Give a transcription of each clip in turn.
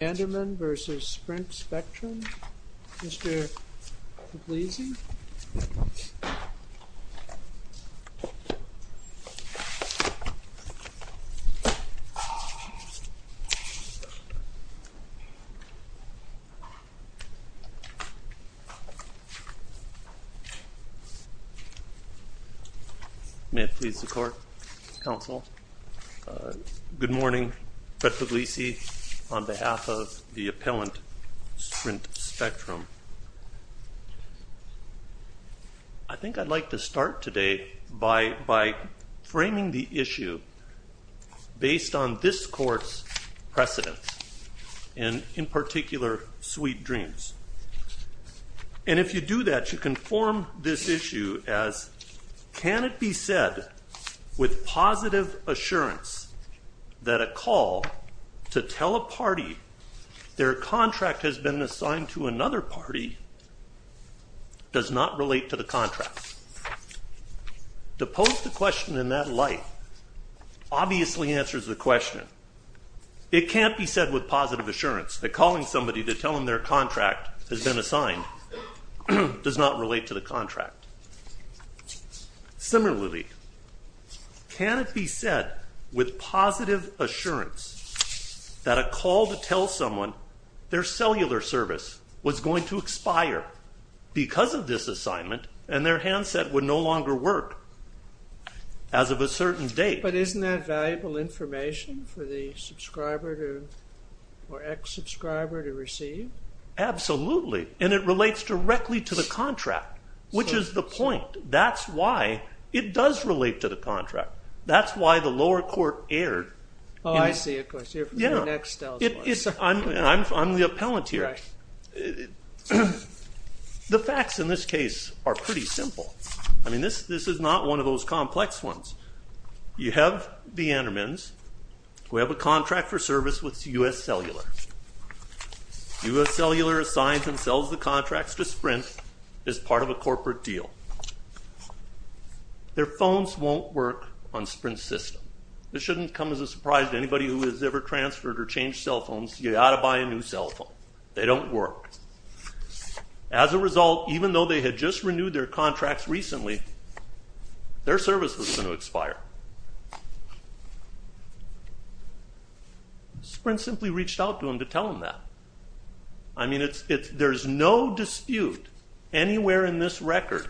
Andermann v. Sprint Spectrum. Mr. Puglisi. May it please the court, counsel. Good morning. Fred Puglisi on behalf of the appellant Sprint Spectrum. I think I'd like to start today by framing the issue based on this court's precedents, and in particular, sweet dreams. And if you do that, you can form this issue as, can it be said with positive assurance that a call to tell a party their contract has been assigned to another party does not relate to the contract? To pose the question in that light obviously answers the question. It can't be said with positive assurance that calling somebody to tell them their contract has been Similarly, can it be said with positive assurance that a call to tell someone their cellular service was going to expire because of this assignment and their handset would no longer work as of a certain date? But isn't that valuable information for the subscriber or ex-subscriber to receive? Absolutely, and it relates directly to the contract, which is the point. That's why it does relate to the contract. That's why the lower court erred. Oh, I see. Of course, you're from the next house. I'm the appellant here. The facts in this case are pretty simple. I mean, this is not one of those complex ones. You have the Andermans who have a contract for service with US Cellular. US Cellular assigns and sells the contracts to Sprint as part of a corporate deal. Their phones won't work on Sprint's system. This shouldn't come as a surprise to anybody who has ever transferred or changed cell phones. You've got to buy a new cell phone. They don't work. As a result, even though they had just renewed their contracts recently, their service was going to expire. Sprint simply reached out to them to tell them that. I mean, there's no dispute anywhere in this record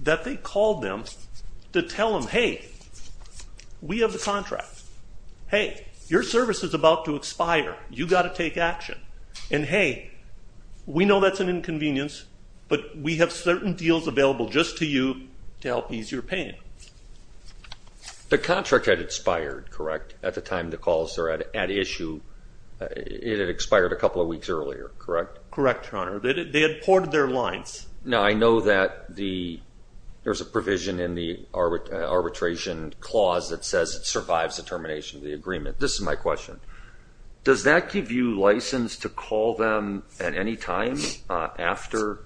that they called them to tell them, hey, we have the contract. Hey, your service is about to expire. You've got to take action. And hey, we know that's an inconvenience, but we have certain deals available just to you to help ease your pain. The contract had expired, correct, at the time the calls are at issue? It had expired a couple of weeks earlier, correct? Correct, your honor. They had ported their lines. Now, I know that there's a provision in the arbitration clause that says it survives the termination of the agreement. This is my question. Does that give you license to call them at any time after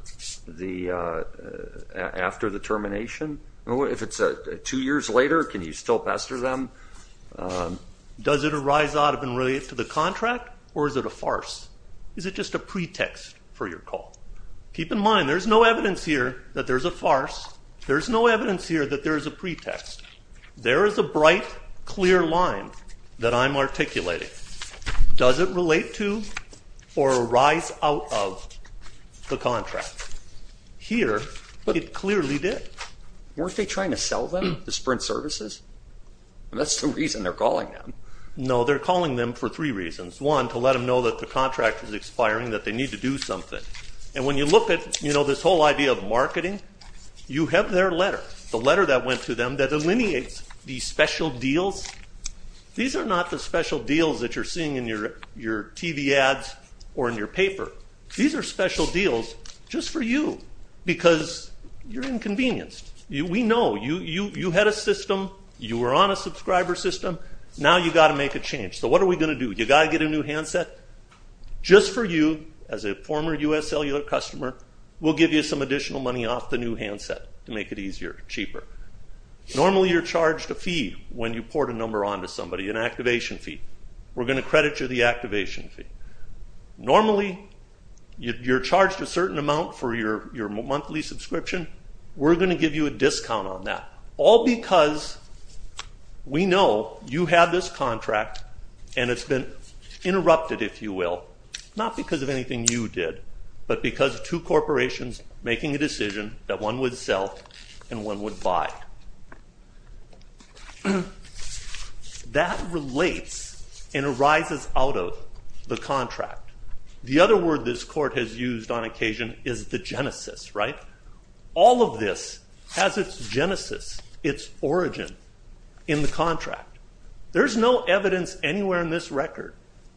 the termination? If it's two years later, can you still pester them? Does it arise out of and relate to the contract, or is it a farce? Is it just a pretext for your call? Keep in mind, there's no evidence here that there's a farce. There's no evidence here that there is a pretext. There is a bright, clear line that I'm articulating. Does it relate to or arise out of the contract? Here, it clearly did. Weren't they trying to sell them to Sprint Services? That's the reason they're calling them. No, they're calling them for three reasons. One, to let them know that the contract is expiring, that they need to do something. And when you look at this whole idea of marketing, you have their letter, the letter that went to them that delineates these special deals. These are not the special deals that you're seeing in your TV ads or in your paper. These are special deals just for you, because you're inconvenienced. We know. You had a system. You were on a subscriber system. Now you've got to make a change. So what are we going to do? You've got to get a new handset? Just for you, as a former US cellular customer, we'll give you some additional money off the new handset to make it easier, cheaper. Normally, you're charged a fee when you port a number on to somebody, an activation fee. We're going to credit you the activation fee. Normally, you're charged a certain amount for your monthly subscription. We're going to give you a discount on that, all because we know you have this contract, and it's been interrupted, if you will, not because of anything you did, but because of two corporations making a decision that one would sell and one would buy. But that relates and arises out of the contract. The other word this court has used on occasion is the genesis, right? All of this has its genesis, its origin, in the contract. There's no evidence anywhere in this record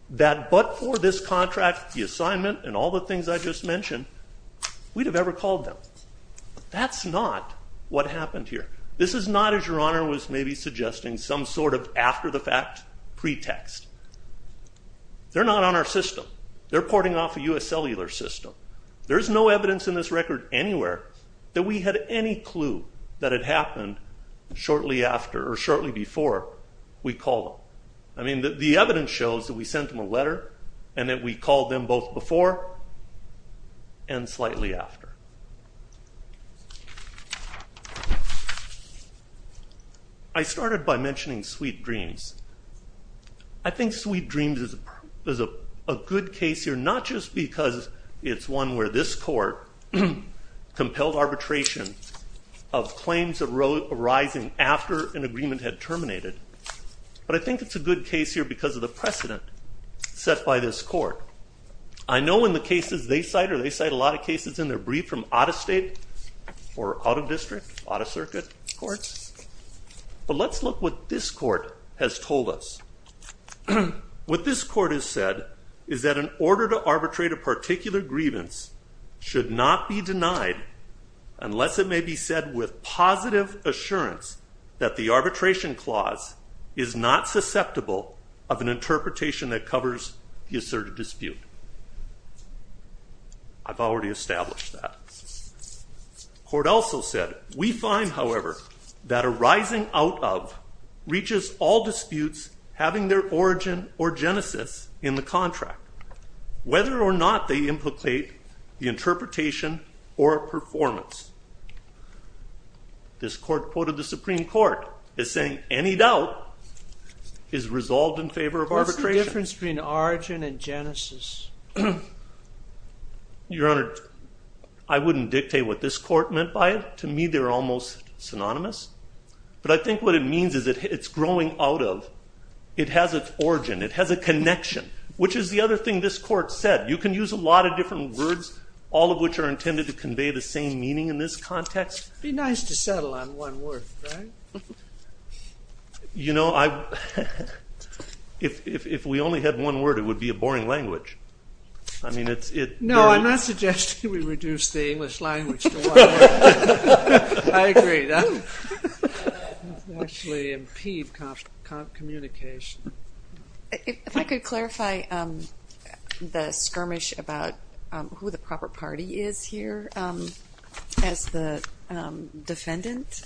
that but for this contract, the assignment, and all the things I just mentioned, we'd have ever called them. That's not what happened here. This is not, as Your Honor was maybe suggesting, some sort of after-the-fact pretext. They're not on our system. They're porting off a US cellular system. There is no evidence in this record anywhere that we had any clue that it happened shortly after or shortly before we called them. I mean, the evidence shows that we sent them a letter and that we called them both before and slightly after. I started by mentioning Sweet Dreams. I think Sweet Dreams is a good case here, not just because it's one where this court compelled arbitration of claims arising after an agreement had terminated, but I think it's a good case here because of the precedent set by this court. I know in the cases they cite, or they cite a lot of cases in their brief from out-of-state or out-of-district, out-of-circuit courts, but let's look what this court has told us. What this court has said is that an order to arbitrate a particular grievance should not be denied unless it may be said with positive assurance that the arbitration clause is not acceptable of an interpretation that covers the asserted dispute. I've already established that. Court also said, we find, however, that a rising out-of reaches all disputes having their origin or genesis in the contract, whether or not they implicate the interpretation or performance. This court quoted the Supreme Court as saying any doubt is resolved in favor of arbitration. What's the difference between origin and genesis? Your Honor, I wouldn't dictate what this court meant by it. To me, they're almost synonymous. But I think what it means is that it's growing out of. It has its origin. It has a connection, which is the other thing this court said. You can use a lot of different words, all of which are intended to convey the same meaning in this context. Be nice to settle on one word, right? You know, if we only had one word, it would be a boring language. I mean, it's very. No, I'm not suggesting we reduce the English language to one word. I agree. It would actually impede communication. If I could clarify the skirmish about who the proper party is, here, as the defendant,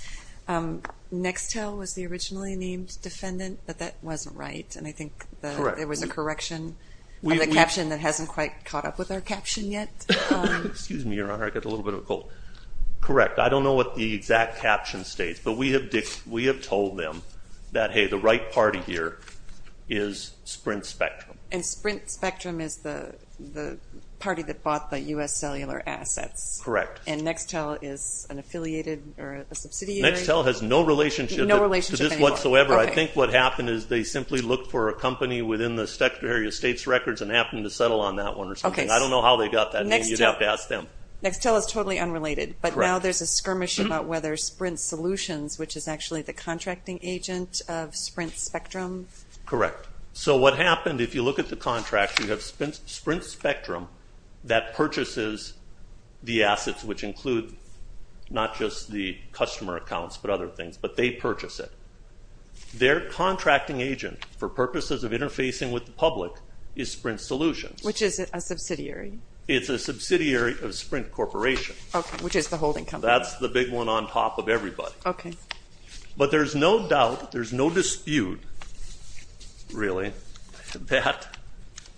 Nextel was the originally named defendant. But that wasn't right. And I think there was a correction in the caption that hasn't quite caught up with our caption yet. Excuse me, Your Honor. I got a little bit of a cold. Correct. I don't know what the exact caption states. But we have told them that, hey, the right party here is Sprint Spectrum. And Sprint Spectrum is the party that bought the US cellular assets. Correct. And Nextel is an affiliated or a subsidiary? Nextel has no relationship to this whatsoever. I think what happened is they simply looked for a company within the Secretary of State's records and happened to settle on that one or something. I don't know how they got that name. You'd have to ask them. Nextel is totally unrelated. But now there's a skirmish about whether Sprint Solutions, which is actually the contracting agent of Sprint Spectrum. Correct. So what happened, if you look at the contract, you have Sprint Spectrum that purchases the assets, which include not just the customer accounts, but other things. But they purchase it. Their contracting agent, for purposes of interfacing with the public, is Sprint Solutions. Which is a subsidiary. It's a subsidiary of Sprint Corporation. OK, which is the holding company. That's the big one on top of everybody. OK. But there's no doubt, there's no dispute, really, that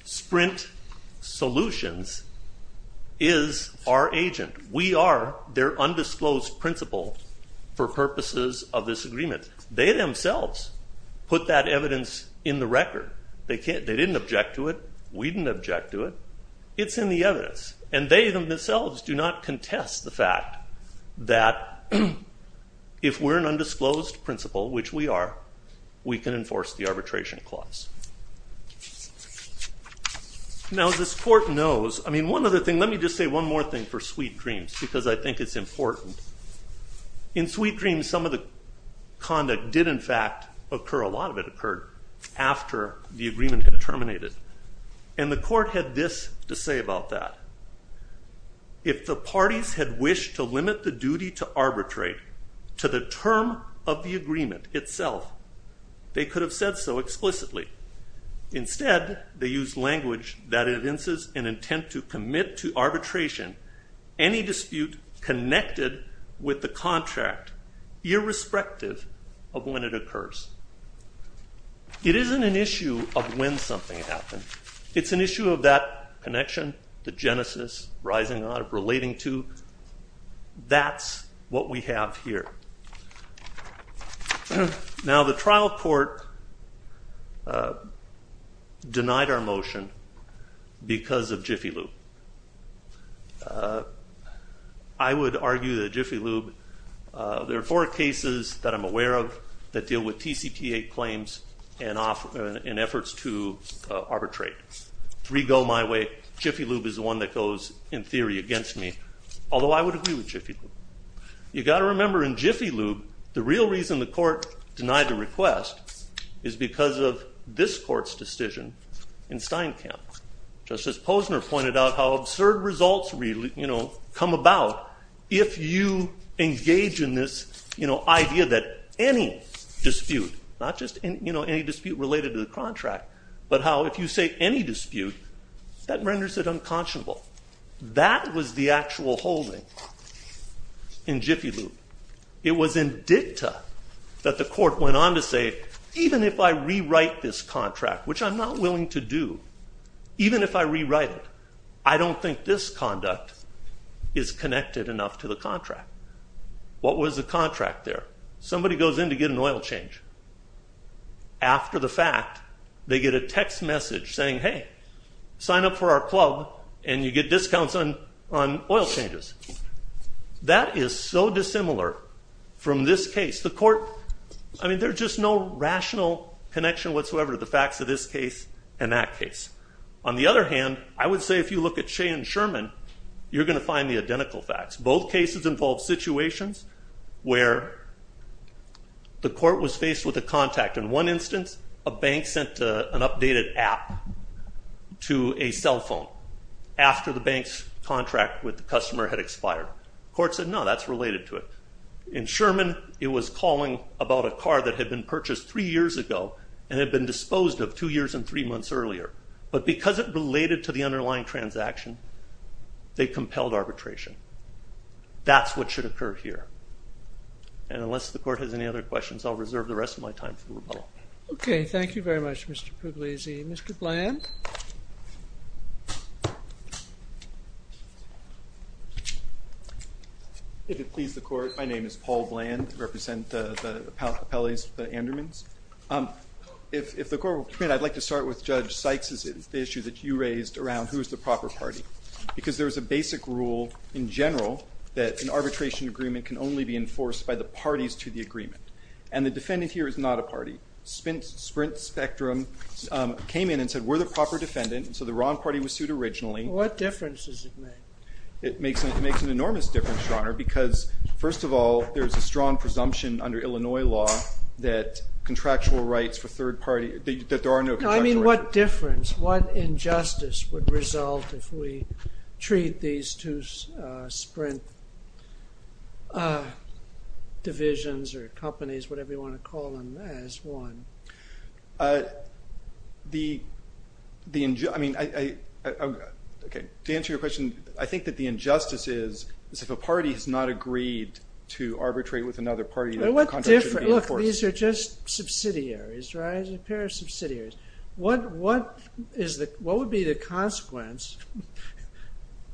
Sprint Solutions is our agent. We are their undisclosed principal for purposes of this agreement. They themselves put that evidence in the record. They didn't object to it. We didn't object to it. It's in the evidence. And they themselves do not contest the fact that if we're an undisclosed principal, which we are, we can enforce the arbitration clause. Now this court knows, I mean, one other thing, let me just say one more thing for Sweet Dreams, because I think it's important. In Sweet Dreams, some of the conduct did, in fact, occur. A lot of it occurred after the agreement had terminated. And the court had this to say about that. If the parties had wished to limit the duty to arbitrate to the term of the agreement itself, they could have said so explicitly. Instead, they used language that evinces an intent to commit to arbitration any dispute connected with the contract, irrespective of when it occurs. It isn't an issue of when something happened. It's an issue of that connection, the genesis, rising up, relating to. That's what we have here. Now the trial court denied our motion because of Jiffy Lube. I would argue that Jiffy Lube, there are four cases that I'm aware of that deal with TCPA claims and efforts to arbitrate. Three go my way. Jiffy Lube is the one that goes, in theory, against me. Although I would agree with Jiffy Lube. You've got to remember, in Jiffy Lube, the real reason the court denied the request is because of this court's decision in Steinkamp. Justice Posner pointed out how absurd results come about if you engage in this idea that any dispute, not just any dispute related to the contract, but how if you say any dispute, that renders it unconscionable. That was the actual holding in Jiffy Lube. It was in dicta that the court went on to say, even if I rewrite this contract, which I'm not willing to do, even if I rewrite it, I don't think this conduct is connected enough to the contract. What was the contract there? Somebody goes in to get an oil change. After the fact, they get a text message saying, hey, sign up for our club, and you get discounts on oil changes. That is so dissimilar from this case. The court, I mean, there's just no rational connection whatsoever to the facts of this case and that case. On the other hand, I would say if you look at Shea and Sherman, you're going to find the identical facts. Both cases involve situations where the court was faced with a contact. In one instance, a bank sent an updated app to a cell phone after the bank's contract with the customer had expired. Court said, no, that's related to it. In Sherman, it was calling about a car that had been purchased three years ago and had been disposed of two years and three months earlier. But because it related to the underlying transaction, they compelled arbitration. That's what should occur here. And unless the court has any other questions, I'll reserve the rest of my time for rebuttal. OK, thank you very much, Mr. Pugliese. Mr. Bland? If it pleases the court, my name is Paul Bland. I represent the appellees, the Andermans. If the court will commit, I'd like to start with Judge Sykes' issue that you raised around who is the proper party. Because there is a basic rule in general that an arbitration agreement can only be enforced by the parties to the agreement. And the defendant here is not a party. Sprint Spectrum came in and said, we're the proper defendant. And so the wrong party was sued originally. What difference does it make? It makes an enormous difference, Your Honor, because first of all, there is a strong presumption under Illinois law that contractual rights for third party, that there are no contractual rights. I mean, what difference, what injustice would result if we treat these two Sprint divisions or companies, whatever you want to call them, as one? To answer your question, I think that the injustice is if a party has not agreed to arbitrate with another party that the contract shouldn't be enforced. Look, these are just subsidiaries, right? A pair of subsidiaries. What would be the consequence,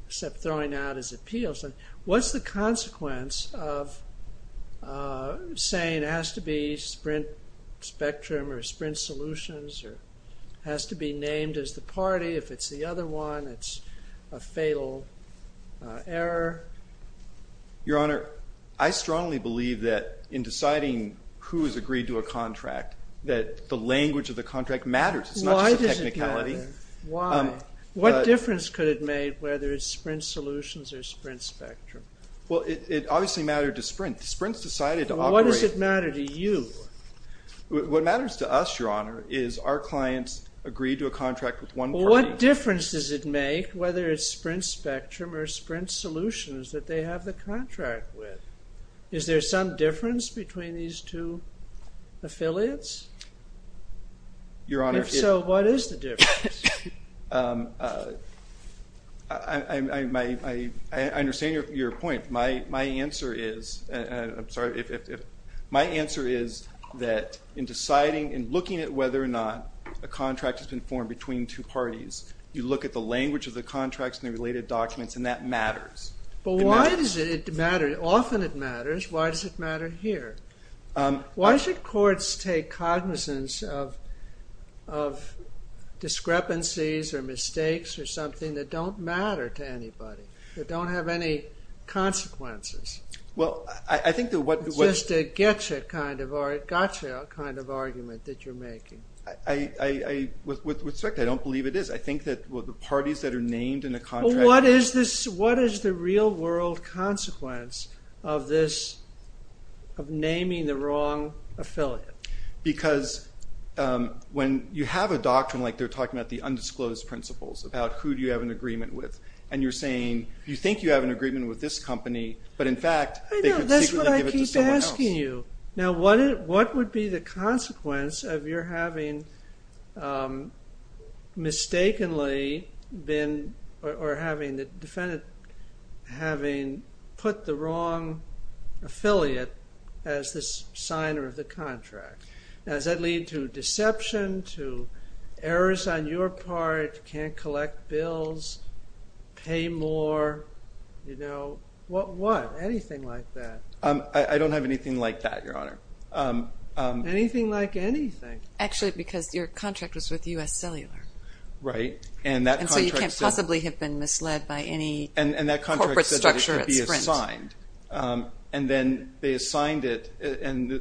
except throwing out as appeals, what's the consequence of saying it has to be Sprint Spectrum or Sprint Solutions or has to be named as the party? If it's the other one, it's a fatal error? Your Honor, I strongly believe that in deciding who is agreed to a contract, that the language of the contract matters. It's not just a technicality. Why does it matter? Why? What difference could it make whether it's Sprint Solutions or Sprint Spectrum? Well, it obviously mattered to Sprint. Sprint's decided to operate. What does it matter to you? What matters to us, Your Honor, is our clients agreed to a contract with one party. What difference does it make whether it's Sprint Spectrum or Sprint Solutions that they have the contract with? Is there some difference between these two affiliates? Your Honor, if so, what is the difference? I understand your point. My answer is that in deciding and looking at whether or not a contract has been formed between two parties, you look at the language of the contracts and the related documents, and that matters. But why does it matter? Often, it matters. Why does it matter here? Why should courts take cognizance of discrepancies or mistakes or something that don't matter to anybody, that don't have any consequences? Well, I think that what was just a gotcha kind of argument that you're making. With respect, I don't believe it is. I think that the parties that are named in a contract What is the real world consequence of naming the wrong affiliate? Because when you have a doctrine like they're talking about the undisclosed principles about who do you have an agreement with, and you're saying, you think you have an agreement with this company, but in fact, they could secretly give it to someone else. I know, that's what I keep asking you. Now, what would be the consequence of your having put the wrong affiliate as the signer of the contract? Does that lead to deception, to errors on your part, can't collect bills, pay more? What? Anything like that. I don't have anything like that, Your Honor. Anything like anything. Actually, because your contract was with US Cellular. Right. And that contract said. And so you can't possibly have been misled by any corporate structure at Sprint. And that contract said that it could be assigned. And then they assigned it, and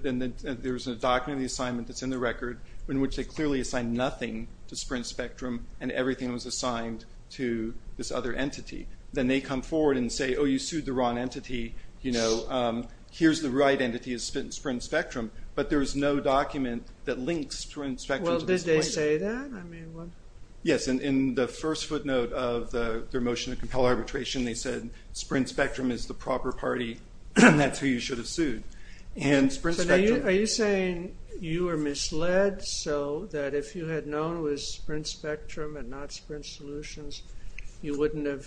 there was a document of the assignment that's in the record in which they clearly assigned nothing to Sprint Spectrum, and everything was assigned to this other entity. Then they come forward and say, oh, you sued the wrong entity. Here's the right entity, it's Sprint Spectrum. But there is no document that links Sprint Spectrum to this point. Well, did they say that? Yes, in the first footnote of their motion to compel arbitration, they said Sprint Spectrum is the proper party, and that's who you should have sued. And Sprint Spectrum. Are you saying you were misled so that if you had known it was Sprint Spectrum and not Sprint Solutions, you wouldn't have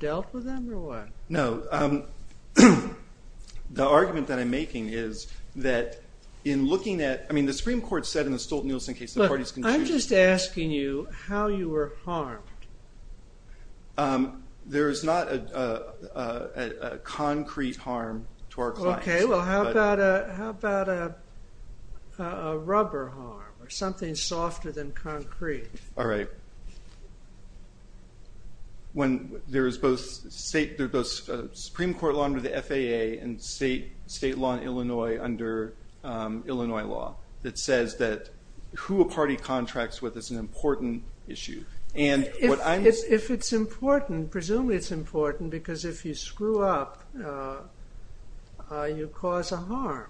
dealt with them, or what? No. The argument that I'm making is that in looking at, I mean, the Supreme Court said in the Stolten-Nielsen case that parties can choose. Look, I'm just asking you how you were harmed. There is not a concrete harm to our clients. OK, well, how about a rubber harm, or something softer than concrete? All right. When there is both a Supreme Court law under the FAA and state law in Illinois under Illinois law that says that who a party contracts with is an important issue. If it's important, presumably it's important, because if you screw up, you cause a harm.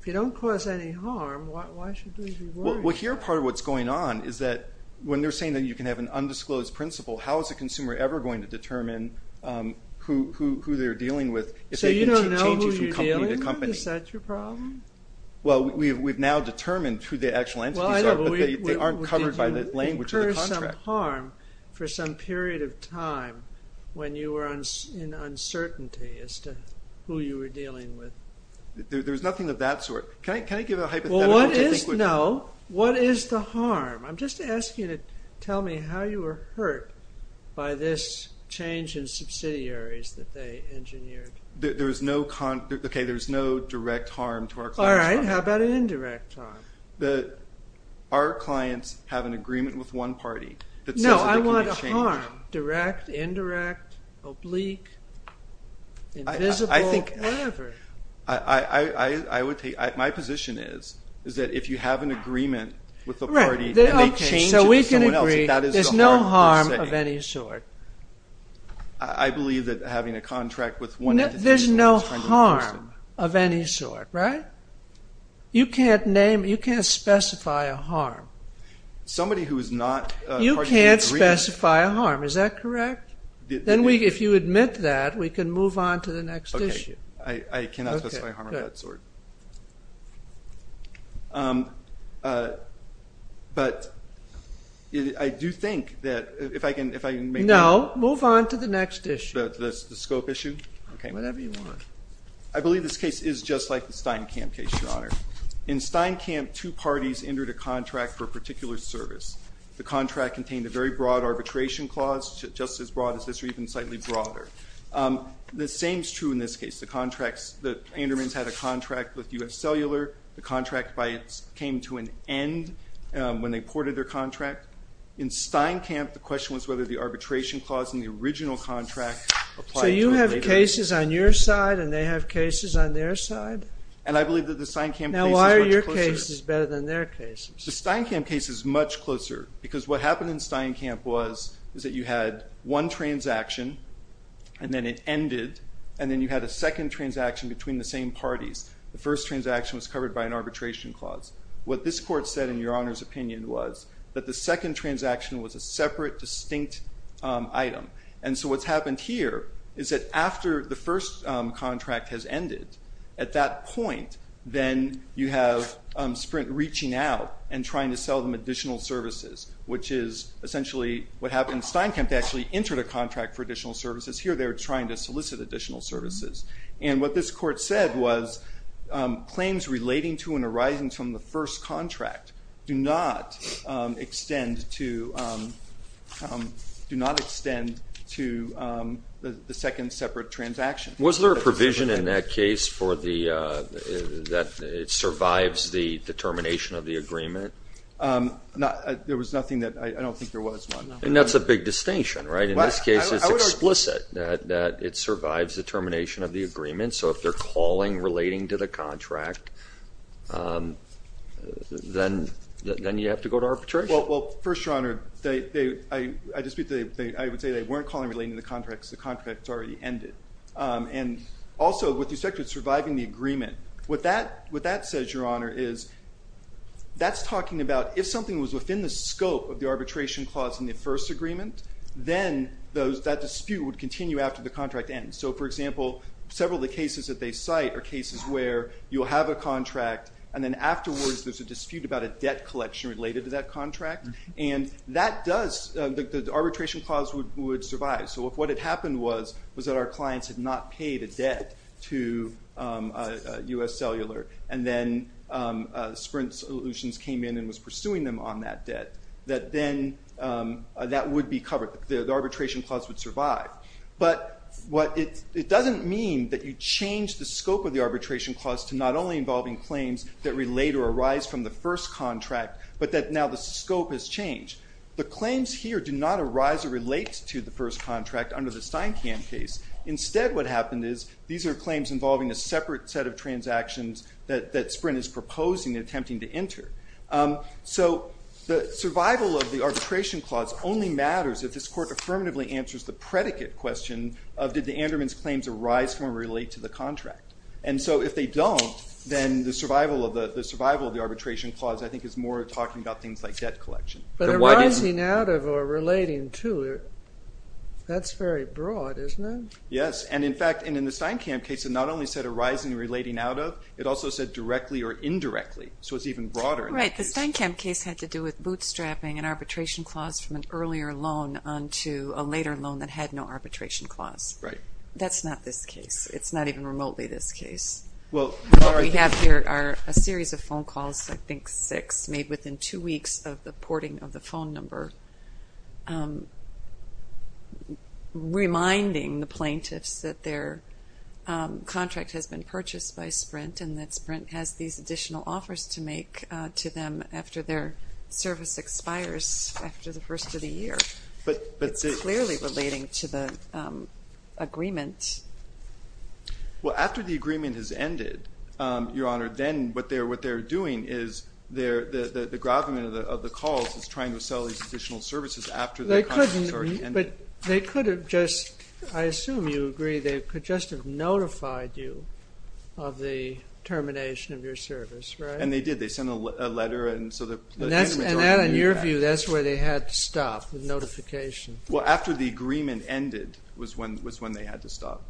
If you don't cause any harm, why should they be worried? Well, here, part of what's going on is that when they're saying that you're saying you can have an undisclosed principle, how is a consumer ever going to determine who they're dealing with if they can take changes So you don't know who you're dealing with? Is that your problem? Well, we've now determined who the actual entities are, but they aren't covered by the language of the contract. Did you incur some harm for some period of time when you were in uncertainty as to who you were dealing with? There's nothing of that sort. Can I give a hypothetical? Well, what is? No. What is the harm? I'm just asking you to tell me how you were hurt by this change in subsidiaries that they engineered. There is no direct harm to our clients. All right. How about an indirect harm? Our clients have an agreement with one party that says that they can be changed. No. I want a harm, direct, indirect, oblique, invisible, whatever. My position is that if you have an agreement with a party and they change it to someone else, that is the harm they're saying. So we can agree there's no harm of any sort. I believe that having a contract with one entity is a friend of a person. There's no harm of any sort, right? You can't name, you can't specify a harm. Somebody who is not a party to the agreement. You can't specify a harm. Is that correct? Then if you admit that, we can move on to the next issue. I cannot specify harm of that sort. But I do think that, if I can make it clear. No. Move on to the next issue. The scope issue? OK. Whatever you want. I believe this case is just like the Steinkamp case, Your Honor. In Steinkamp, two parties entered a contract for a particular service. The contract contained a very broad arbitration clause, just as broad as this, or even slightly broader. The same is true in this case. The contracts, the Andermans had a contract with US Cellular. The contract came to an end when they ported their contract. In Steinkamp, the question was whether the arbitration clause in the original contract applied to it later. So you have cases on your side, and they have cases on their side? And I believe that the Steinkamp case is much closer. Now, why are your cases better than their cases? The Steinkamp case is much closer. Because what happened in Steinkamp was that you had one transaction, and then it ended. And then you had a second transaction between the same parties. The first transaction was covered by an arbitration clause. What this court said, in Your Honor's opinion, was that the second transaction was a separate, distinct item. And so what's happened here is that after the first contract has ended, at that point, then you have Sprint reaching out and trying to sell them additional services, which is essentially what happened in Steinkamp. They actually entered a contract for additional services. Here, they're trying to solicit additional services. And what this court said was, claims relating to and arising from the first contract do not extend to the second separate transaction. Was there a provision in that case that it survives the termination of the agreement? There was nothing that, I don't think there was one. And that's a big distinction, right? In this case, it's explicit that it survives the termination of the agreement. So if they're calling relating to the contract, then you have to go to arbitration. Well, first, Your Honor, I would say they weren't calling relating to the contract because the contract's already ended. And also, with respect to surviving the agreement, what that says, Your Honor, is that's talking about if something was within the scope of the arbitration clause in the first agreement, then that dispute would continue after the contract ends. So for example, several of the cases that they cite are cases where you'll have a contract, and then afterwards, there's a dispute about a debt collection related to that contract. And that does, the arbitration clause would survive. So if what had happened was that our clients had not paid a debt to US Cellular, and then Sprint Solutions came in and was pursuing them on that debt, that then that would be covered. The arbitration clause would survive. But it doesn't mean that you change the scope of the arbitration clause to not only involving claims that relate or arise from the first contract, but that now the scope has changed. The claims here do not arise or relate to the first contract under the Steinkamp case. Instead, what happened is these are claims involving a separate set of transactions that Sprint is proposing and attempting to enter. So the survival of the arbitration clause only matters if this court affirmatively answers the predicate question of, did the Andermans' claims arise from or relate to the contract? And so if they don't, then the survival of the arbitration clause, I think, is more talking about things like debt collection. But arising out of or relating to, that's very broad, isn't it? Yes, and in fact, in the Steinkamp case, it not only said arising and relating out of, it also said directly or indirectly. So it's even broader. Right, the Steinkamp case had to do with bootstrapping an arbitration clause from an earlier loan onto a later loan that had no arbitration clause. That's not this case. It's not even remotely this case. What we have here are a series of phone calls, I think six, made within two weeks of the porting of the phone number, reminding the plaintiffs that their contract has been purchased by Sprint and that Sprint has these additional offers to make to them after their service expires after the first of the year. But it's clearly relating to the agreement. Well, after the agreement has ended, Your Honor, then what they're doing is the gravamen of the calls is trying to sell these additional services after the contract has already ended. But they could have just, I assume you agree, they could just have notified you of the termination of your service, right? And they did. They sent a letter and so the Andermans already knew that. And that, in your view, that's where they had to stop, the notification. Well, after the agreement ended was when they had to stop.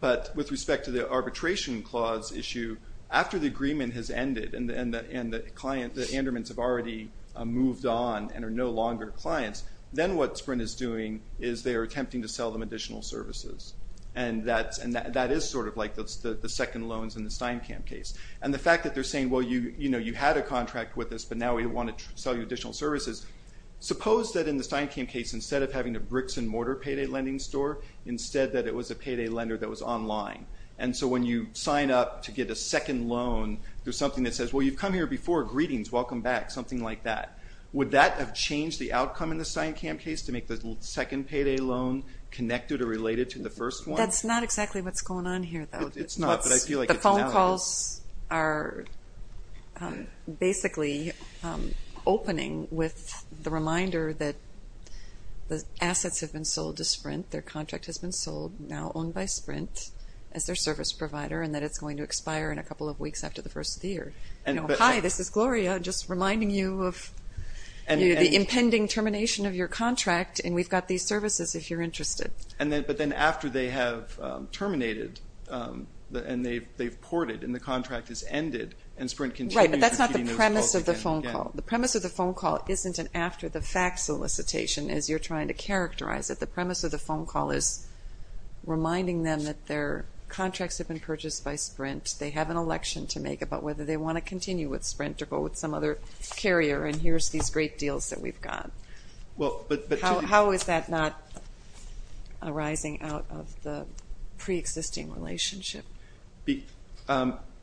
But with respect to the arbitration clause issue, after the agreement has ended and the Andermans have already moved on and are no longer clients, then what Sprint is doing is they are attempting to sell them additional services. And that is sort of like the second loans in the Steinkamp case. And the fact that they're saying, well, you had a contract with us, but now we want to sell you additional services. Suppose that in the Steinkamp case, instead of having a bricks and mortar payday lending store, instead that it was a payday lender that was online. And so when you sign up to get a second loan, there's something that says, well, you've come here before, greetings, welcome back, something like that. Would that have changed the outcome in the Steinkamp case to make the second payday loan connected or related to the first one? That's not exactly what's going on here, though. It's not, but I feel like it's now. So you all are basically opening with the reminder that the assets have been sold to Sprint, their contract has been sold, now owned by Sprint as their service provider, and that it's going to expire in a couple of weeks after the first of the year. Hi, this is Gloria, just reminding you of the impending termination of your contract, and we've got these services if you're interested. But then after they have terminated and they've ported, and the contract has ended, and Sprint continues repeating those calls again and again. Right, but that's not the premise of the phone call. The premise of the phone call isn't an after-the-fact solicitation, as you're trying to characterize it. The premise of the phone call is reminding them that their contracts have been purchased by Sprint, they have an election to make about whether they want to continue with Sprint or go with some other carrier, and here's these great deals that we've got. How is that not arising out of the pre-existing relationship?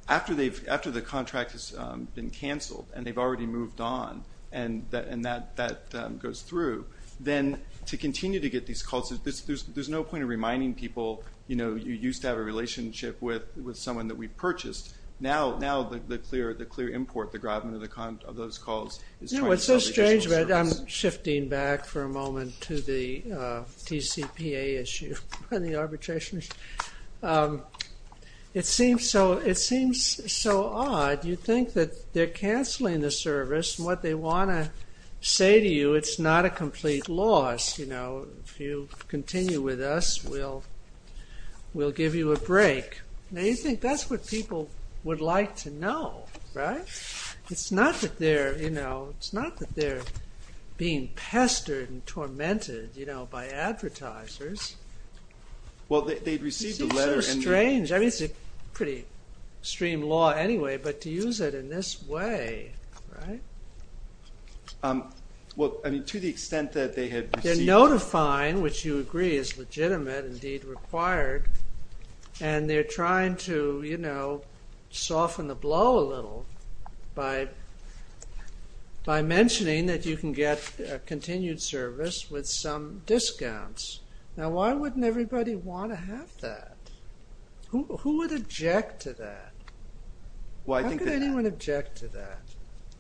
After the contract has been canceled and they've already moved on, and that goes through, then to continue to get these calls, there's no point in reminding people, you used to have a relationship with someone that we purchased, now the clear import, the grabbing of those calls, is trying to sell the additional service. I'm shifting back for a moment to the TCPA issue and the arbitration issue. It seems so odd. You think that they're canceling the service, and what they want to say to you, it's not a complete loss. If you continue with us, we'll give you a break. Now you think that's what people would like to know, right? It's not that they're being pestered and tormented by advertisers. Well, they'd receive the letter and the- It seems so strange. I mean, it's a pretty extreme law anyway, but to use it in this way, right? Well, I mean, to the extent that they had received- They're notifying, which you agree is legitimate, indeed required, and they're trying to soften the blow a little. By mentioning that you can get continued service with some discounts. Now why wouldn't everybody want to have that? Who would object to that? Why would anyone object to that?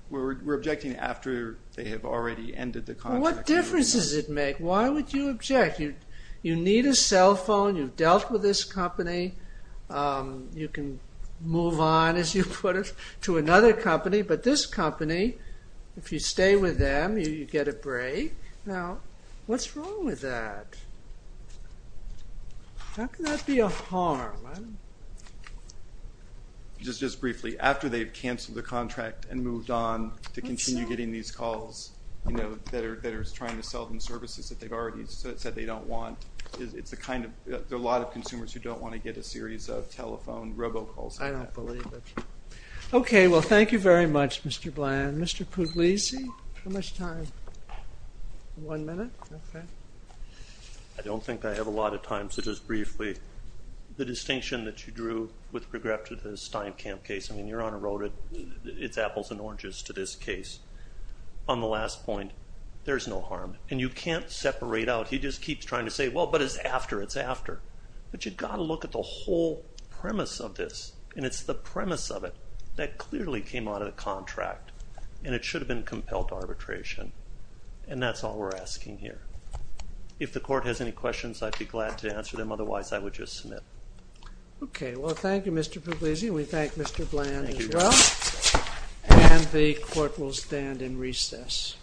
We're objecting after they have already ended the contract. What difference does it make? Why would you object? You need a cell phone. You've dealt with this company. You can move on, as you put it, to another company. But this company, if you stay with them, you get a break. Now, what's wrong with that? How can that be a harm? Just briefly, after they've canceled the contract and moved on to continue getting these calls that are trying to sell them services that they've already said they don't want, there are a lot of consumers who don't want to get a series of telephone robocalls. I don't believe it. OK, well, thank you very much, Mr. Bland. Mr. Pugliese, how much time? One minute? I don't think I have a lot of time, so just briefly. The distinction that you drew with regard to the Steinkamp case, I mean, Your Honor wrote it. It's apples and oranges to this case. On the last point, there's no harm. And you can't separate out. He just keeps trying to say, well, but it's after. It's after. But you've got to look at the whole premise of this. And it's the premise of it that clearly came out of the contract. And it should have been compelled arbitration. And that's all we're asking here. If the court has any questions, I'd be glad to answer them. Otherwise, I would just submit. OK, well, thank you, Mr. Pugliese. And we thank Mr. Bland as well. And the court will stand in recess.